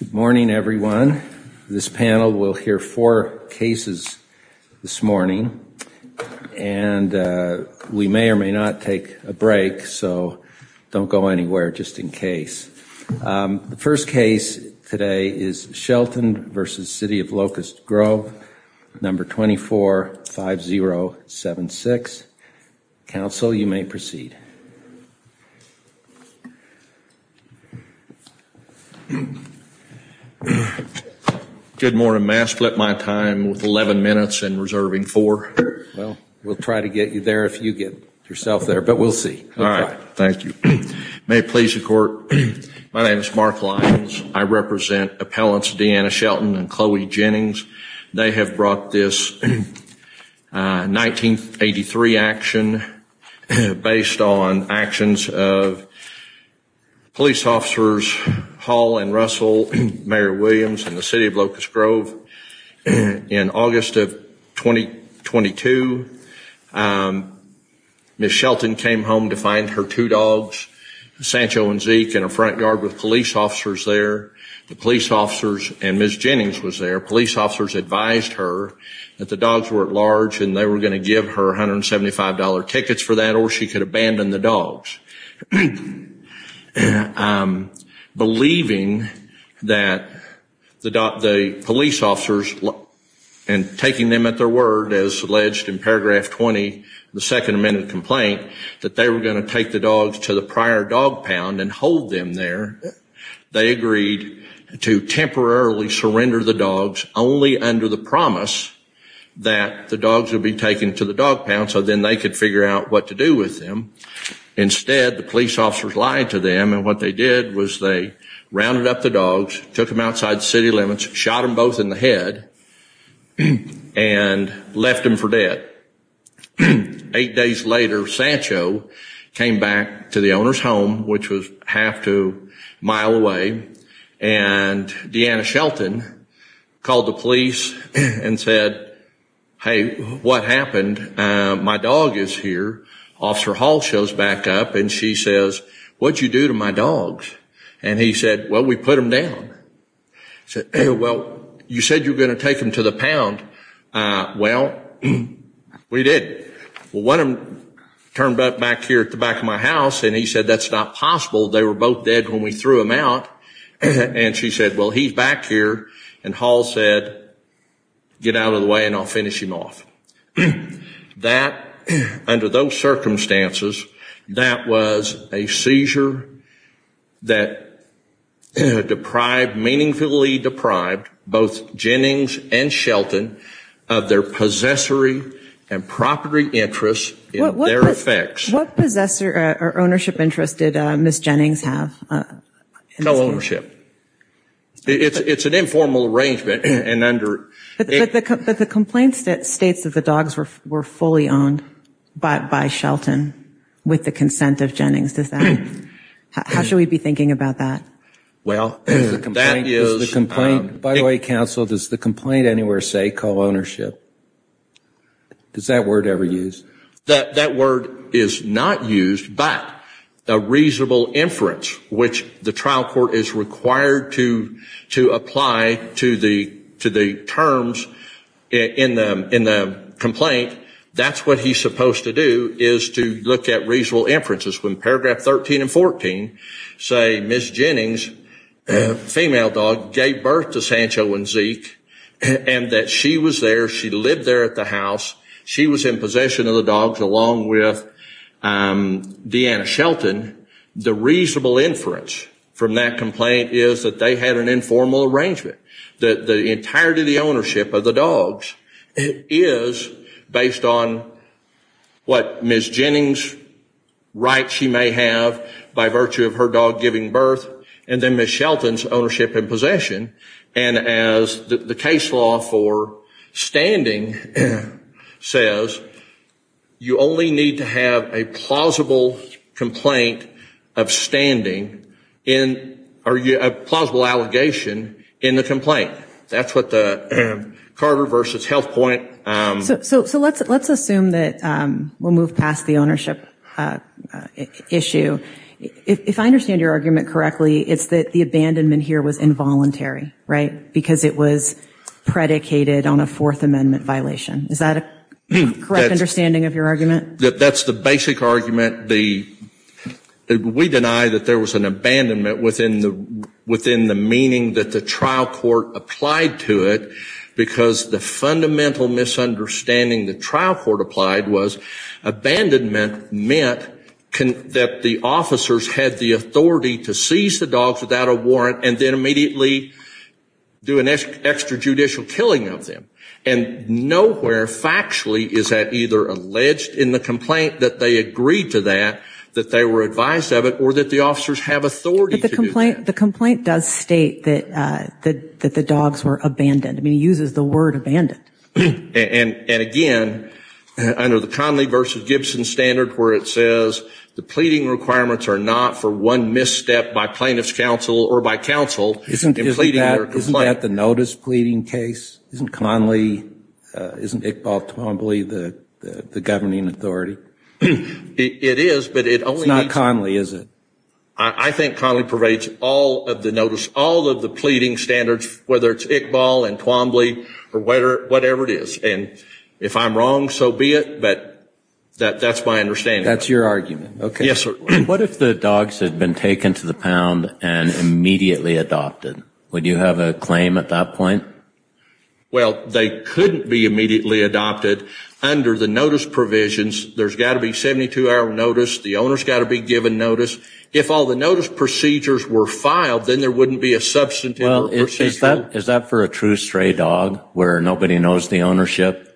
Good morning everyone. This panel will hear four cases this morning, and we may or may not take a break, so don't go anywhere just in case. The first case today is Shelton v. City of Locust Grove, number 245076. Counsel, you may proceed. Good morning. May I split my time with 11 minutes and reserving four? Well, we'll try to get you there if you get yourself there, but we'll see. All right. Thank you. May it please the court, my name is Mark Lyons. I represent appellants Deanna Shelton and Chloe Jennings. They have brought this 1983 action based on actions of police officers Hall and Russell, Mayor Williams, and the City of Locust Grove. In August of 2022, Ms. Shelton came home to find her two dogs, Sancho and Zeke, in a front yard with police officers there. The police officers, and Ms. Jennings was there, police officers advised her that the dogs were at large and they were going to give her $175 tickets for that or she could abandon the dogs. Believing that the police officers, and taking them at their word as alleged in paragraph 20 of the Second Amendment complaint, that they were going to take the dogs to the prior dog pound and hold them there, they agreed to temporarily surrender the dogs only under the promise that the dogs would be taken to the dog pound so then they could figure out what to do with them. Instead, the police officers lied to them and what they did was they rounded up the dogs, took them outside city limits, shot them both in the head, and left them for dead. Eight days later, Sancho came back to the owner's home, which was half to a mile away, and Deanna Shelton called the police and said, hey, what happened? My dog is here. Officer Hall shows back up and she says, what did you do to my dogs? And he said, well, we put them down. Well, you said you were going to take them to the pound. Well, we did. Well, one of them turned up back here at the back of my house and he said, that's not possible. They were both dead when we threw them out. And she said, well, he's back here. And Hall said, get out of the way and I'll finish him off. That, under those circumstances, that was a seizure that deprived, meaningfully deprived, both Jennings and Shelton of their possessory and property interests in their effects. What possessor or ownership interests did Ms. Jennings have? No ownership. It's an informal arrangement and under But the complaint states that the dogs were fully owned by Shelton with the consent of Jennings. How should we be thinking about that? Well, that is By the way, counsel, does the complaint anywhere say co-ownership? Does that word ever use? That word is not used, but a reasonable inference, which the trial court is required to apply to the terms in the complaint. That's what he's supposed to do, is to look at reasonable inferences. When paragraph 13 and 14 say Ms. Jennings, female dog, gave birth to Sancho and Zeke and that she was there, she lived there at the house. She was in possession of the dogs along with Deanna Shelton. The reasonable inference from that complaint is that they had an informal arrangement. The entirety of the ownership of the dogs is based on what Ms. Jennings writes she may have by virtue of her dog giving birth and then Ms. Shelton's ownership and possession. And as the case law for standing says, you only need to have a plausible complaint of standing or a plausible allegation in the complaint. That's what the Carter v. Health Point So let's assume that we'll move past the ownership issue. If I understand your argument correctly, it's that the abandonment here was involuntary, right? Because it was predicated on a Fourth Amendment violation. Is that a correct understanding of your argument? That's the basic argument. We deny that there was an abandonment within the meaning that the trial court applied to it because the fundamental misunderstanding the trial court applied was abandonment meant that the officers had the authority to seize the dogs without a warrant and then immediately do an extrajudicial killing of them. And nowhere factually is that either alleged in the complaint that they agreed to that, that they were advised of it, or that the officers have authority to do that. But the complaint does state that the dogs were abandoned. It uses the word abandoned. And again, under the Conley v. Gibson standard where it says the pleading requirements are not for one misstep by plaintiff's counsel or by counsel in pleading their complaint. Isn't that the notice pleading case? Isn't Conley, isn't Iqbal Twombly the governing authority? It is. It's not Conley, is it? I think Conley pervades all of the notice, all of the pleading standards, whether it's Iqbal and Twombly or whatever it is. And if I'm wrong, so be it. But that's my understanding. That's your argument. Yes, sir. What if the dogs had been taken to the pound and immediately adopted? Would you have a claim at that point? Well, they couldn't be immediately adopted under the notice provisions. There's got to be 72-hour notice. The owner's got to be given notice. If all the notice procedures were filed, then there wouldn't be a substantive procedure. Well, is that for a true stray dog where nobody knows the ownership?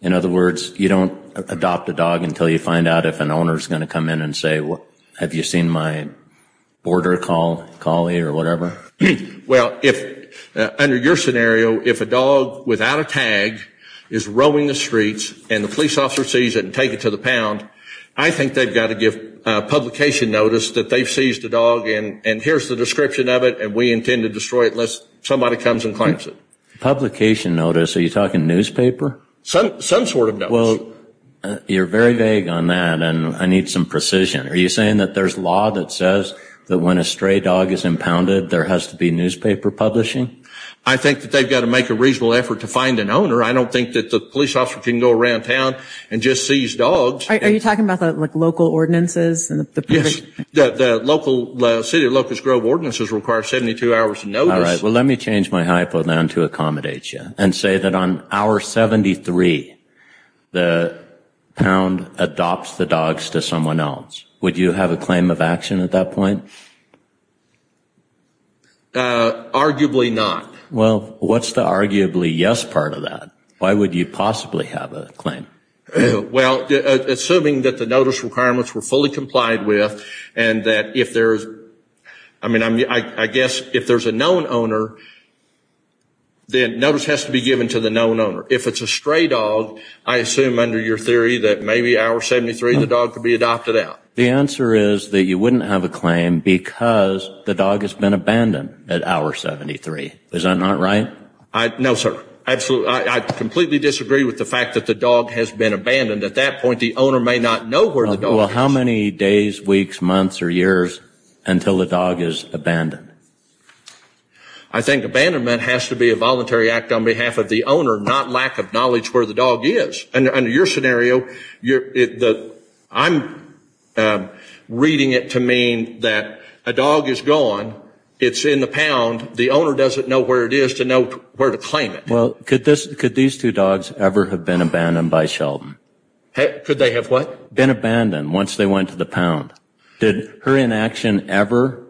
In other words, you don't adopt a dog until you find out if an owner's going to come in and say, have you seen my border collie or whatever? Well, under your scenario, if a dog without a tag is roaming the streets and the police officer sees it and takes it to the pound, I think they've got to give publication notice that they've seized the dog and here's the description of it and we intend to destroy it unless somebody comes and claims it. Publication notice? Are you talking newspaper? Some sort of notice. Well, you're very vague on that and I need some precision. Are you saying that there's law that says that when a stray dog is impounded, there has to be newspaper publishing? I think that they've got to make a reasonable effort to find an owner. I don't think that the police officer can go around town and just seize dogs. Are you talking about the local ordinances? Yes. The city of Locust Grove ordinances require 72 hours of notice. All right. Well, let me change my hypo then to accommodate you and say that on hour 73 the pound adopts the dogs to someone else. Would you have a claim of action at that point? Arguably not. Well, what's the arguably yes part of that? Why would you possibly have a claim? Well, assuming that the notice requirements were fully complied with and that if there's, I mean, I guess if there's a known owner, then notice has to be given to the known owner. If it's a stray dog, I assume under your theory that maybe hour 73 the dog could be adopted out. The answer is that you wouldn't have a claim because the dog has been abandoned at hour 73. Is that not right? No, sir. Absolutely. I completely disagree with the fact that the dog has been abandoned. At that point, the owner may not know where the dog is. Well, how many days, weeks, months or years until the dog is abandoned? I think abandonment has to be a voluntary act on behalf of the owner, not lack of knowledge where the dog is. Under your scenario, I'm reading it to mean that a dog is gone, it's in the pound, the owner doesn't know where it is to know where to claim it. Well, could these two dogs ever have been abandoned by Sheldon? Could they have what? Been abandoned once they went to the pound. Did her inaction ever,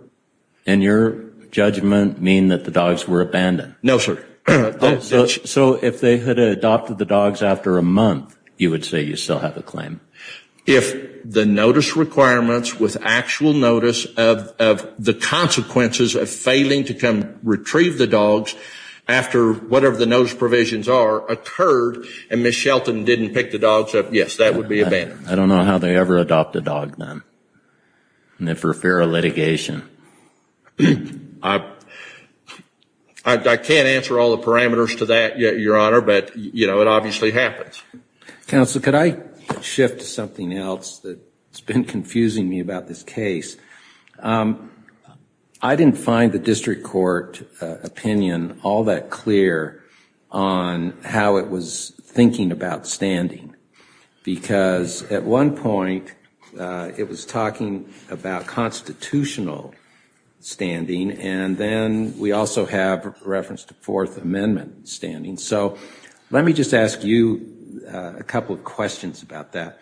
in your judgment, mean that the dogs were abandoned? No, sir. So if they had adopted the dogs after a month, you would say you still have a claim? If the notice requirements with actual notice of the consequences of failing to come retrieve the dogs after whatever the notice provisions are occurred and Ms. Shelton didn't pick the dogs up, yes, that would be abandoned. I don't know how they ever adopt a dog then, and if for fear of litigation. I can't answer all the parameters to that yet, Your Honor, but it obviously happens. Counsel, could I shift to something else that's been confusing me about this case? I didn't find the district court opinion all that clear on how it was thinking about standing because at one point it was talking about constitutional standing, and then we also have reference to Fourth Amendment standing. So let me just ask you a couple of questions about that.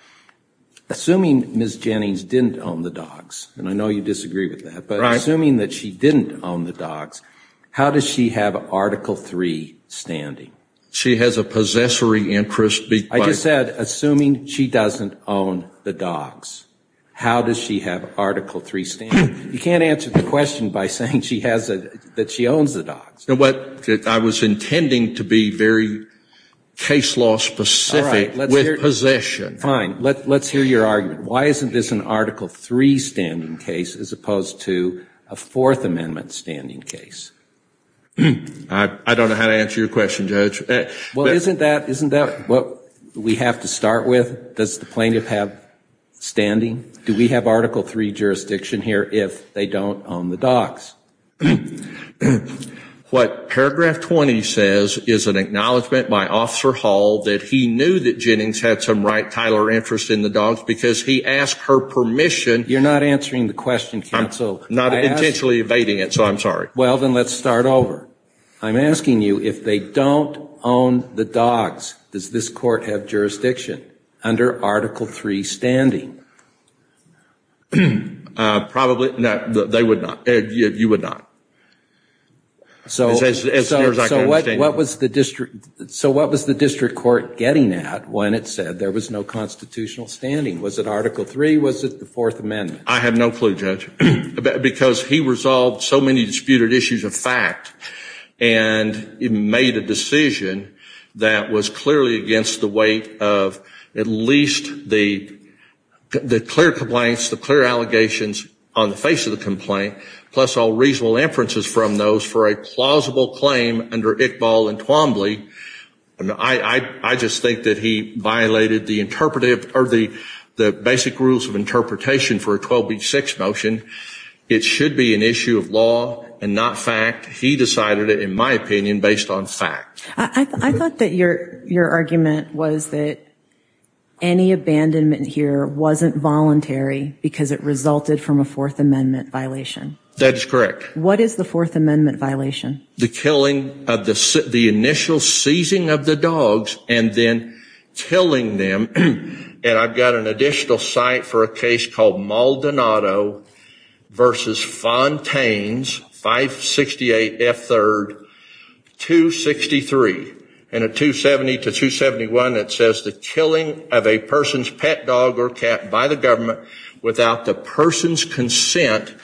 Assuming Ms. Jennings didn't own the dogs, and I know you disagree with that, but assuming that she didn't own the dogs, how does she have Article III standing? She has a possessory interest. I just said assuming she doesn't own the dogs, how does she have Article III standing? You can't answer the question by saying that she owns the dogs. I was intending to be very case law specific with possession. Fine. Let's hear your argument. Why isn't this an Article III standing case as opposed to a Fourth Amendment standing case? I don't know how to answer your question, Judge. Well, isn't that what we have to start with? Does the plaintiff have standing? Do we have Article III jurisdiction here if they don't own the dogs? What paragraph 20 says is an acknowledgment by Officer Hall that he knew that Jennings had some right, title, or interest in the dogs because he asked her permission. You're not answering the question, counsel. I'm not intentionally evading it, so I'm sorry. Well, then let's start over. I'm asking you if they don't own the dogs, does this court have jurisdiction under Article III standing? Probably not. They would not. You would not. So what was the district court getting at when it said there was no constitutional standing? Was it Article III? Was it the Fourth Amendment? I have no clue, Judge. Because he resolved so many disputed issues of fact, and he made a decision that was clearly against the weight of at least the clear complaints, the clear allegations on the face of the complaint, plus all reasonable inferences from those for a plausible claim under Iqbal and Twombly. I just think that he violated the basic rules of interpretation for a 12B6 motion. It should be an issue of law and not fact. He decided it, in my opinion, based on fact. I thought that your argument was that any abandonment here wasn't voluntary because it resulted from a Fourth Amendment violation. That is correct. What is the Fourth Amendment violation? The killing of the initial seizing of the dogs and then killing them. And I've got an additional site for a case called Maldonado v. Fontaines, 568 F. 3rd, 263. And at 270 to 271, it says the killing of a person's pet dog or cat by the government without the person's consent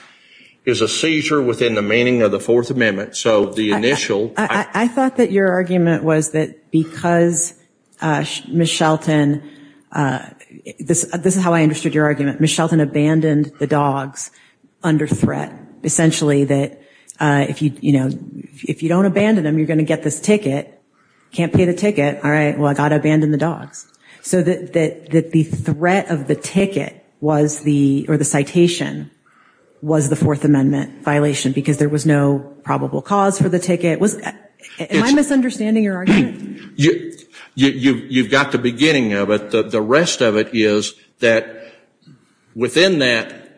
is a seizure within the meaning of the Fourth Amendment. So the initial – I thought that your argument was that because Ms. Shelton – this is how I understood your argument. Ms. Shelton abandoned the dogs under threat, essentially that if you don't abandon them, you're going to get this ticket. Can't pay the ticket. All right, well, I've got to abandon the dogs. So that the threat of the ticket was the – or the citation was the Fourth Amendment violation because there was no probable cause for the ticket. Am I misunderstanding your argument? You've got the beginning of it. The rest of it is that within that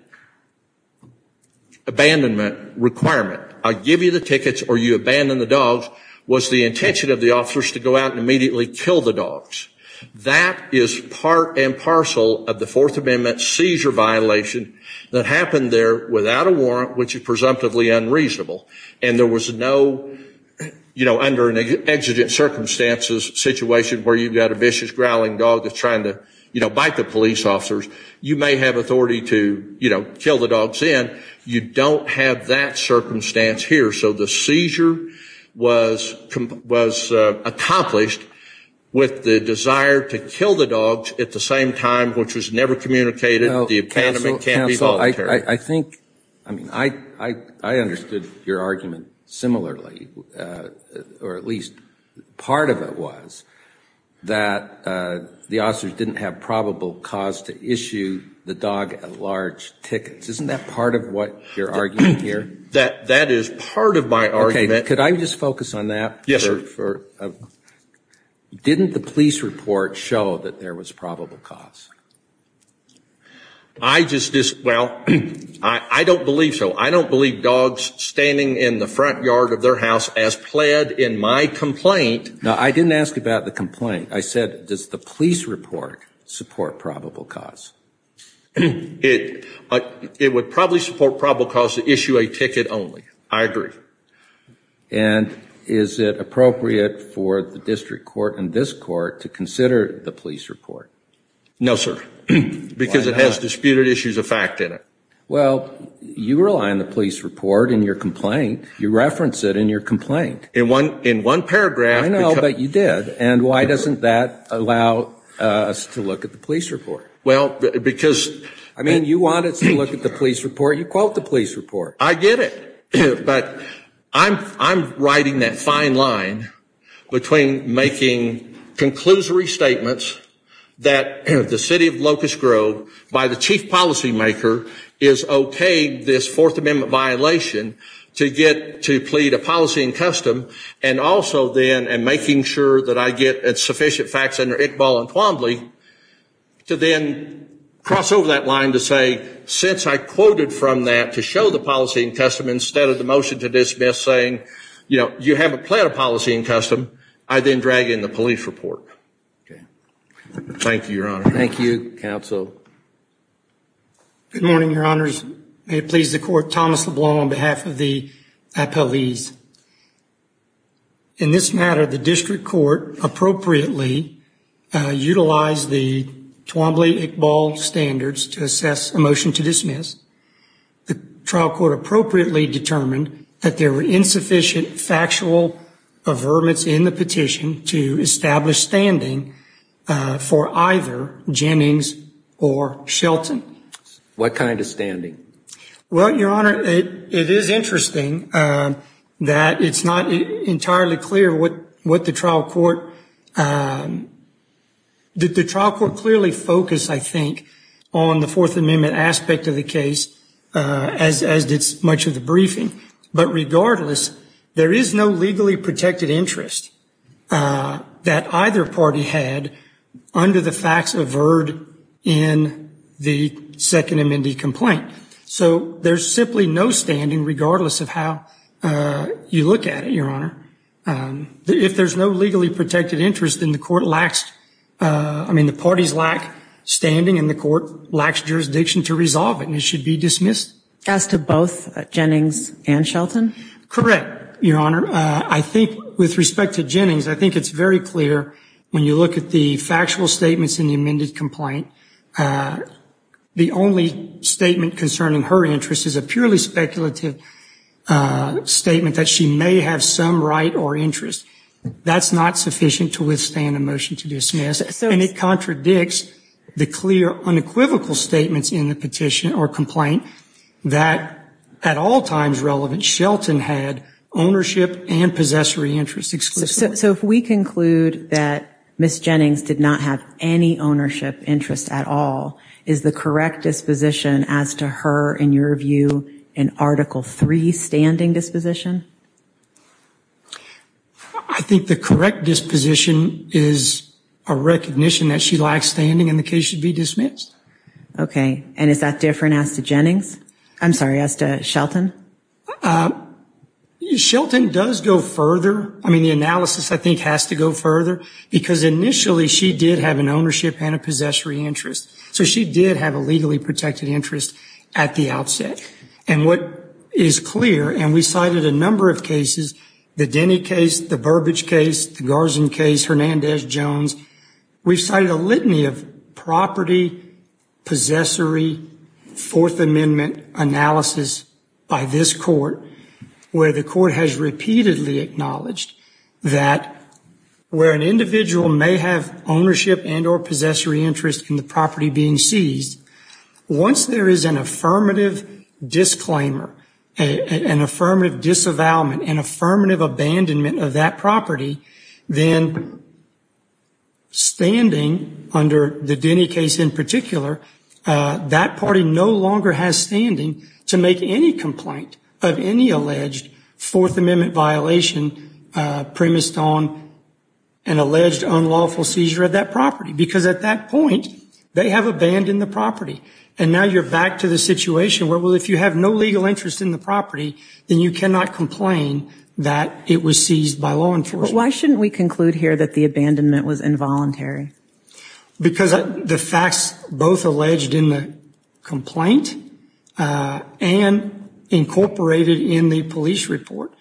abandonment requirement, I give you the tickets or you abandon the dogs, was the intention of the officers to go out and immediately kill the dogs. That is part and parcel of the Fourth Amendment seizure violation that happened there without a warrant, which is presumptively unreasonable. And there was no, you know, under an exigent circumstances situation where you've got a vicious growling dog that's trying to, you know, bite the police officers. You may have authority to, you know, kill the dogs in. You don't have that circumstance here. So the seizure was accomplished with the desire to kill the dogs at the same time, which was never communicated. The abandonment can't be voluntary. I think – I mean, I understood your argument similarly, or at least part of it was that the officers didn't have probable cause to issue the dog at large tickets. Isn't that part of what you're arguing here? That is part of my argument. Okay. Could I just focus on that? Yes, sir. Didn't the police report show that there was probable cause? I just – well, I don't believe so. I don't believe dogs standing in the front yard of their house as pled in my complaint. No, I didn't ask about the complaint. I said, does the police report support probable cause? It would probably support probable cause to issue a ticket only. I agree. And is it appropriate for the district court and this court to consider the police report? No, sir, because it has disputed issues of fact in it. Well, you rely on the police report in your complaint. You reference it in your complaint. In one paragraph. I know, but you did. And why doesn't that allow us to look at the police report? Well, because – I mean, you want us to look at the police report. You quote the police report. I get it. But I'm writing that fine line between making conclusory statements that the city of Locust Grove, by the chief policymaker, is okayed this Fourth Amendment violation to get to plead a policy in custom and also then making sure that I get sufficient facts under Iqbal and Twombly to then cross over that line to say, since I quoted from that to show the policy in custom instead of the motion to dismiss saying, you know, you haven't pled a policy in custom, I then drag in the police report. Okay. Thank you, Your Honor. Thank you, counsel. Good morning, Your Honors. May it please the court, Thomas LeBlanc on behalf of the appellees. In this matter, the district court appropriately utilized the Twombly-Iqbal standards to assess a motion to dismiss. The trial court appropriately determined that there were insufficient factual averments in the petition to establish standing for either Jennings or Shelton. What kind of standing? Well, Your Honor, it is interesting that it's not entirely clear what the trial court did. The trial court clearly focused, I think, on the Fourth Amendment aspect of the case as did much of the briefing. But regardless, there is no legally protected interest that either party had under the facts averted in the Second Amendment complaint. So there's simply no standing regardless of how you look at it, Your Honor. If there's no legally protected interest, then the court lacks, I mean, the parties lack standing and the court lacks jurisdiction to resolve it, and it should be dismissed. As to both Jennings and Shelton? Correct, Your Honor. I think with respect to Jennings, I think it's very clear when you look at the factual statements in the amended complaint, the only statement concerning her interest is a purely speculative statement that she may have some right or interest. That's not sufficient to withstand a motion to dismiss. And it contradicts the clear, unequivocal statements in the petition or complaint that at all times relevant, Shelton had ownership and possessory interest exclusively. So if we conclude that Ms. Jennings did not have any ownership interest at all, is the correct disposition as to her, in your view, an Article III standing disposition? I think the correct disposition is a recognition that she lacks standing and the case should be dismissed. Okay. And is that different as to Jennings? I'm sorry, as to Shelton? Shelton does go further. I mean, the analysis, I think, has to go further because initially she did have an ownership and a possessory interest. So she did have a legally protected interest at the outset. And what is clear, and we cited a number of cases, the Denny case, the Burbage case, the Garzun case, Hernandez-Jones, we've cited a litany of property, possessory, Fourth Amendment analysis by this court where the court has repeatedly acknowledged that where an individual may have ownership and or possessory interest in the property being seized, once there is an affirmative disclaimer, an affirmative disavowalment, an affirmative abandonment of that property, then standing under the Denny case in particular, that party no longer has standing to make any complaint of any alleged Fourth Amendment violation premised on an alleged unlawful seizure of that property. Because at that point, they have abandoned the property. And now you're back to the situation where, well, if you have no legal interest in the property, then you cannot complain that it was seized by law enforcement. But why shouldn't we conclude here that the abandonment was involuntary? Because the facts both alleged in the complaint and incorporated in the police report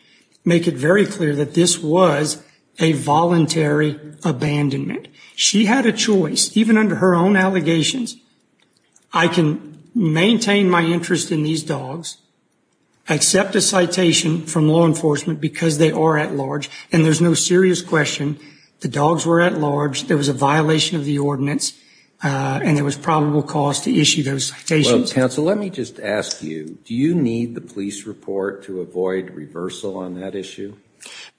make it very clear that this was a voluntary abandonment. She had a choice, even under her own allegations, I can maintain my interest in these dogs, accept a citation from law enforcement because they are at large, and there's no serious question the dogs were at large, there was a violation of the ordinance, and there was probable cause to issue those citations. Well, counsel, let me just ask you, do you need the police report to avoid reversal on that issue?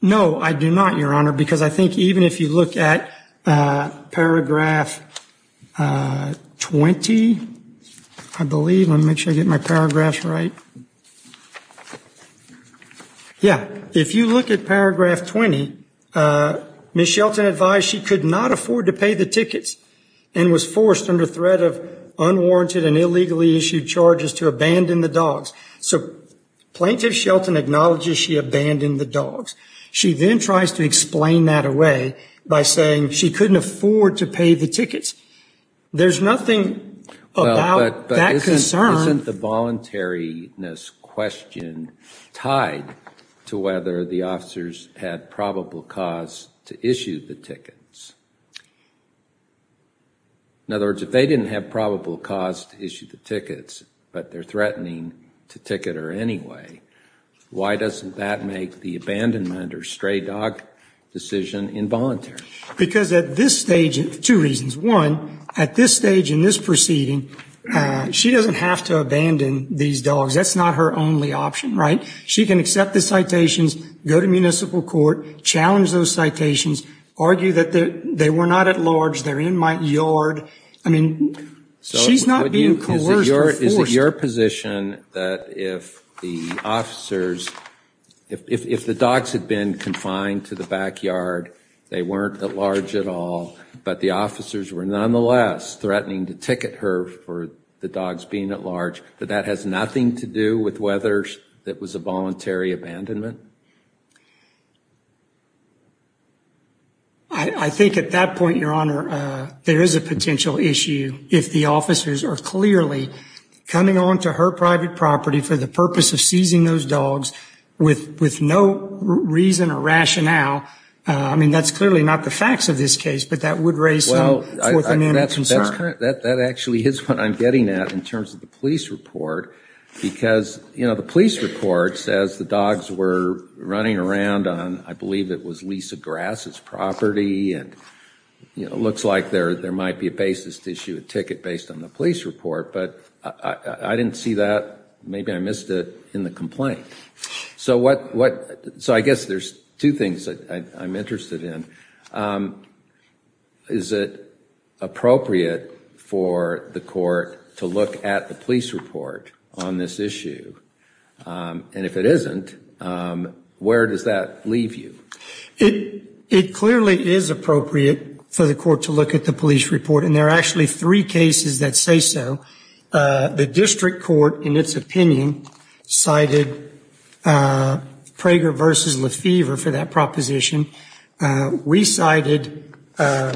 No, I do not, Your Honor, because I think even if you look at paragraph 20, I believe, let me make sure I get my paragraphs right. Yeah, if you look at paragraph 20, Ms. Shelton advised she could not afford to pay the tickets and was forced under threat of unwarranted and illegally issued charges to abandon the dogs. So Plaintiff Shelton acknowledges she abandoned the dogs. She then tries to explain that away by saying she couldn't afford to pay the tickets. There's nothing about that concern. Well, but isn't the voluntariness question tied to whether the officers had probable cause to issue the tickets? In other words, if they didn't have probable cause to issue the tickets, but they're threatening to ticket her anyway, why doesn't that make the abandonment or stray dog decision involuntary? Because at this stage, two reasons. One, at this stage in this proceeding, she doesn't have to abandon these dogs. That's not her only option, right? She can accept the citations, go to municipal court, challenge those citations, argue that they were not at large, they're in my yard. I mean, she's not being coerced or forced. Is it your position that if the officers, if the dogs had been confined to the backyard, they weren't at large at all, but the officers were nonetheless threatening to ticket her for the dogs being at large, that that has nothing to do with whether it was a voluntary abandonment? I think at that point, Your Honor, there is a potential issue if the officers are clearly coming on to her private property for the purpose of seizing those dogs with no reason or rationale. I mean, that's clearly not the facts of this case, but that would raise some forthcoming concerns. That actually is what I'm getting at in terms of the police report, because the police report says the dogs were running around on, I believe it was Lisa Grass's property, and it looks like there might be a basis to issue a ticket based on the police report. But I didn't see that. Maybe I missed it in the complaint. So I guess there's two things I'm interested in. Is it appropriate for the court to look at the police report on this issue? And if it isn't, where does that leave you? It clearly is appropriate for the court to look at the police report, and there are actually three cases that say so. The district court, in its opinion, cited Prager v. Lefevre for that proposition. We cited, I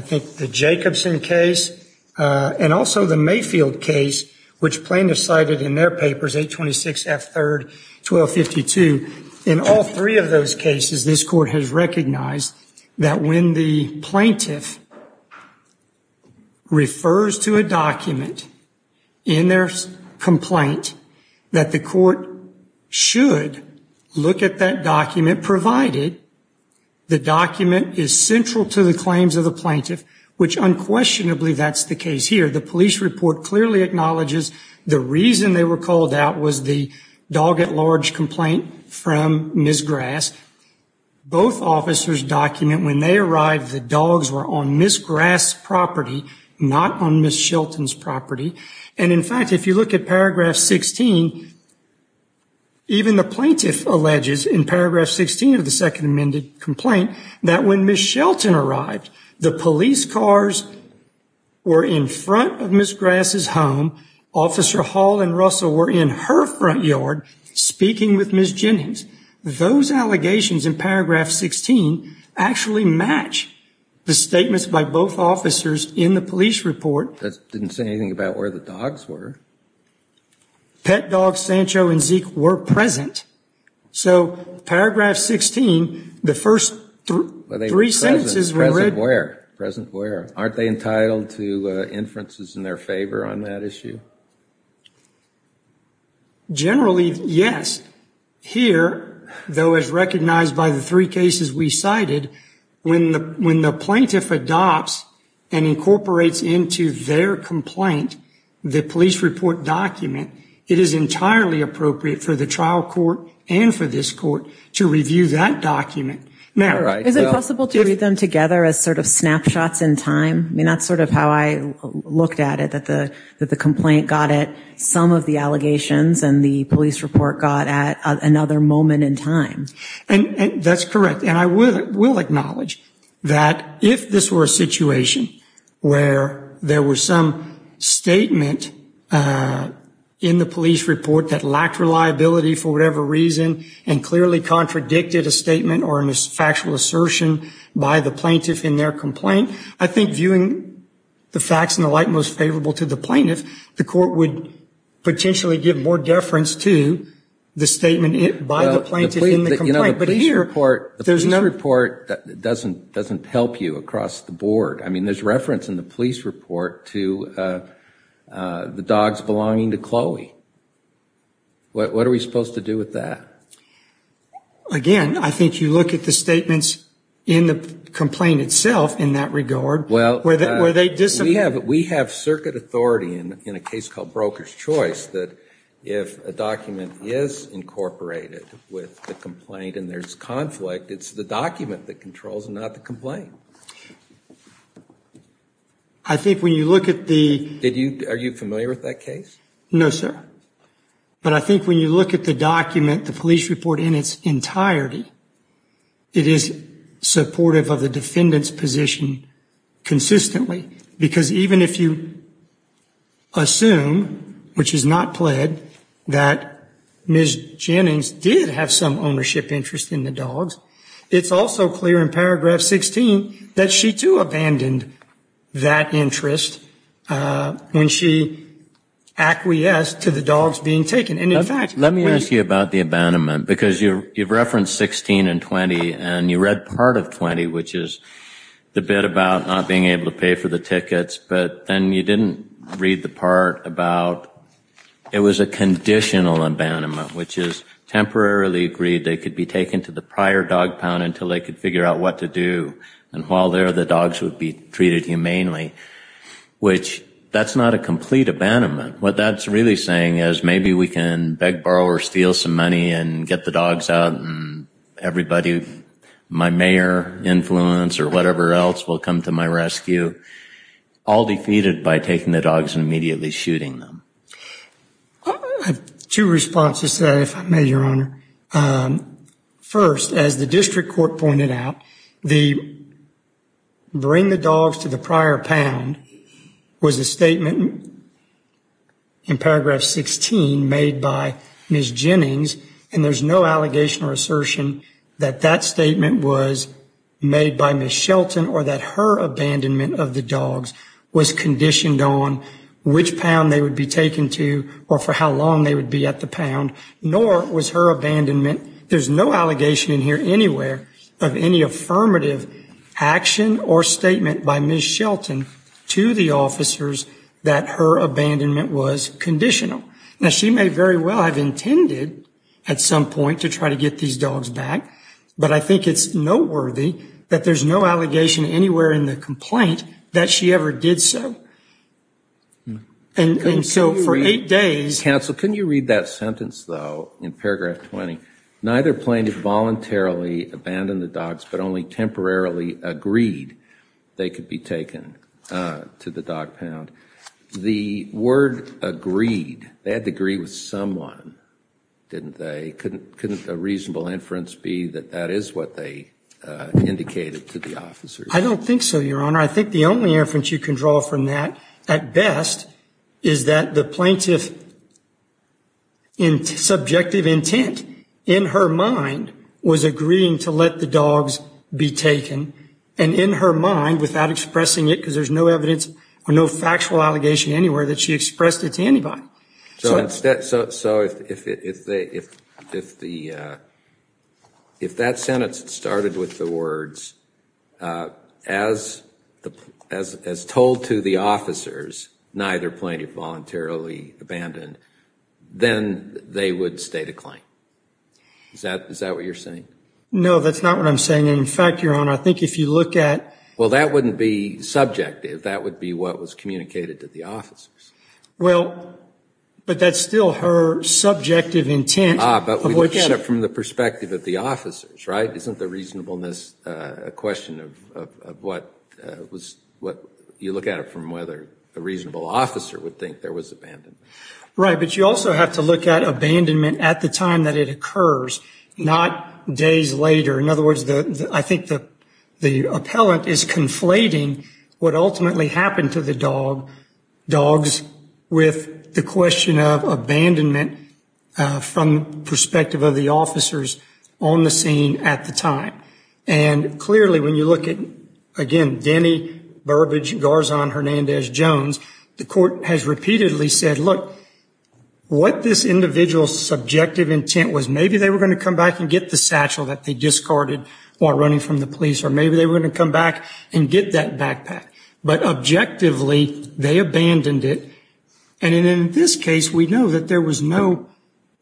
think, the Jacobson case and also the Mayfield case, which plaintiffs cited in their papers, 826 F. 3rd, 1252. In all three of those cases, this court has recognized that when the plaintiff refers to a document in their complaint, that the court should look at that document, provided the document is central to the claims of the plaintiff, which unquestionably that's the case here. The police report clearly acknowledges the reason they were called out was the dog-at-large complaint from Ms. Grass. Both officers document when they arrived the dogs were on Ms. Grass's property, not on Ms. Shelton's property. And, in fact, if you look at paragraph 16, even the plaintiff alleges in paragraph 16 of the Second Amendment complaint that when Ms. Shelton arrived, the police cars were in front of Ms. Grass's home, Officer Hall and Russell were in her front yard speaking with Ms. Jennings. Those allegations in paragraph 16 actually match the statements by both officers in the police report. That didn't say anything about where the dogs were. Pet dogs Sancho and Zeke were present. So paragraph 16, the first three sentences were read. Present where? Aren't they entitled to inferences in their favor on that issue? Generally, yes. Here, though as recognized by the three cases we cited, when the plaintiff adopts and incorporates into their complaint the police report document, it is entirely appropriate for the trial court and for this court to review that document. Is it possible to read them together as sort of snapshots in time? I mean, that's sort of how I looked at it, that the complaint got at some of the allegations and the police report got at another moment in time. That's correct. And I will acknowledge that if this were a situation where there was some statement in the police report that lacked reliability for whatever reason and clearly contradicted a statement or a factual assertion by the plaintiff in their complaint, I think viewing the facts in the light most favorable to the plaintiff, the court would potentially give more deference to the statement by the plaintiff in the complaint. You know, the police report doesn't help you across the board. I mean, there's reference in the police report to the dogs belonging to Chloe. What are we supposed to do with that? Again, I think you look at the statements in the complaint itself in that regard where they disagree. We have circuit authority in a case called Broker's Choice that if a document is incorporated with the complaint and there's conflict, it's the document that controls and not the complaint. I think when you look at the... Are you familiar with that case? No, sir. But I think when you look at the document, the police report in its entirety, it is supportive of the defendant's position consistently because even if you assume, which is not pled, that Ms. Jennings did have some ownership interest in the dogs, it's also clear in paragraph 16 that she too abandoned that interest when she acquiesced to the dogs being taken. And in fact... Let me ask you about the abandonment because you've referenced 16 and 20, and you read part of 20, which is the bit about not being able to pay for the tickets, but then you didn't read the part about it was a conditional abandonment, which is temporarily agreed they could be taken to the prior dog pound until they could figure out what to do. And while there, the dogs would be treated humanely, which that's not a complete abandonment. What that's really saying is maybe we can beg, borrow, or steal some money and get the dogs out and everybody, my mayor influence or whatever else will come to my rescue, all defeated by taking the dogs and immediately shooting them. I have two responses to that, if I may, Your Honor. First, as the district court pointed out, the bring the dogs to the prior pound was a statement in paragraph 16 made by Ms. Jennings, and there's no allegation or assertion that that statement was made by Ms. Shelton or that her abandonment of the dogs was conditioned on which pound they would be taken to or for how long they would be at the pound, nor was her abandonment. There's no allegation in here anywhere of any affirmative action or statement by Ms. Shelton to the officers that her abandonment was conditional. Now, she may very well have intended at some point to try to get these dogs back, but I think it's noteworthy that there's no allegation anywhere in the complaint that she ever did so. And so for eight days... Counsel, can you read that sentence, though, in paragraph 20? Neither plaintiff voluntarily abandoned the dogs, but only temporarily agreed they could be taken to the dog pound. The word agreed, they had to agree with someone, didn't they? Couldn't a reasonable inference be that that is what they indicated to the officers? I don't think so, Your Honor. I think the only inference you can draw from that, at best, is that the plaintiff's subjective intent in her mind was agreeing to let the dogs be taken, and in her mind, without expressing it because there's no evidence or no factual allegation anywhere, that she expressed it to anybody. So if that sentence started with the words, as told to the officers, neither plaintiff voluntarily abandoned, then they would state a claim. Is that what you're saying? No, that's not what I'm saying. In fact, Your Honor, I think if you look at... Well, that wouldn't be subjective. That would be what was communicated to the officers. Well, but that's still her subjective intent. Ah, but we look at it from the perspective of the officers, right? Isn't the reasonableness a question of what you look at it from whether a reasonable officer would think there was abandonment? Right, but you also have to look at abandonment at the time that it occurs, not days later. In other words, I think the appellant is conflating what ultimately happened to the dogs with the question of abandonment from the perspective of the officers on the scene at the time. And clearly, when you look at, again, Denny, Burbage, Garzon, Hernandez, Jones, the court has repeatedly said, look, what this individual's subjective intent was, and maybe they were going to come back and get the satchel that they discarded while running from the police, or maybe they were going to come back and get that backpack. But objectively, they abandoned it. And in this case, we know that there was no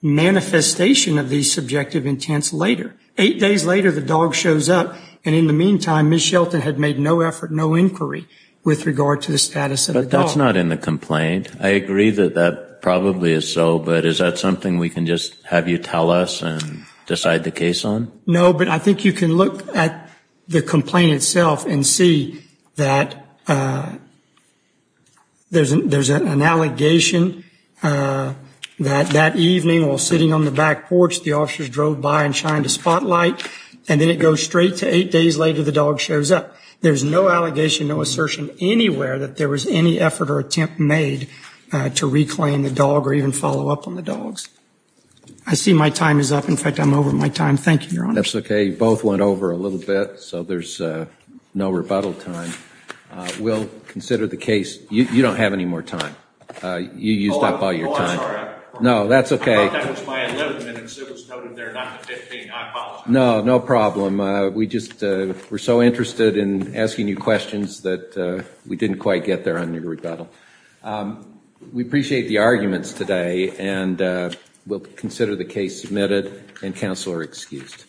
manifestation of these subjective intents later. Eight days later, the dog shows up. And in the meantime, Ms. Shelton had made no effort, no inquiry with regard to the status of the dog. But that's not in the complaint. I agree that that probably is so, but is that something we can just have you tell us and decide the case on? No, but I think you can look at the complaint itself and see that there's an allegation that that evening while sitting on the back porch, the officers drove by and shined a spotlight, and then it goes straight to eight days later the dog shows up. There's no allegation, no assertion anywhere that there was any effort or attempt made to reclaim the dog or even follow up on the dogs. I see my time is up. In fact, I'm over my time. Thank you, Your Honor. That's okay. You both went over a little bit, so there's no rebuttal time. We'll consider the case. You don't have any more time. You used up all your time. Oh, I'm sorry. No, that's okay. I thought that was my 11 minutes. It was noted there not the 15. I apologize. No, no problem. We just were so interested in asking you questions that we didn't quite get there on your rebuttal. We appreciate the arguments today, and we'll consider the case submitted, and counsel are excused. Thank you. Thank you.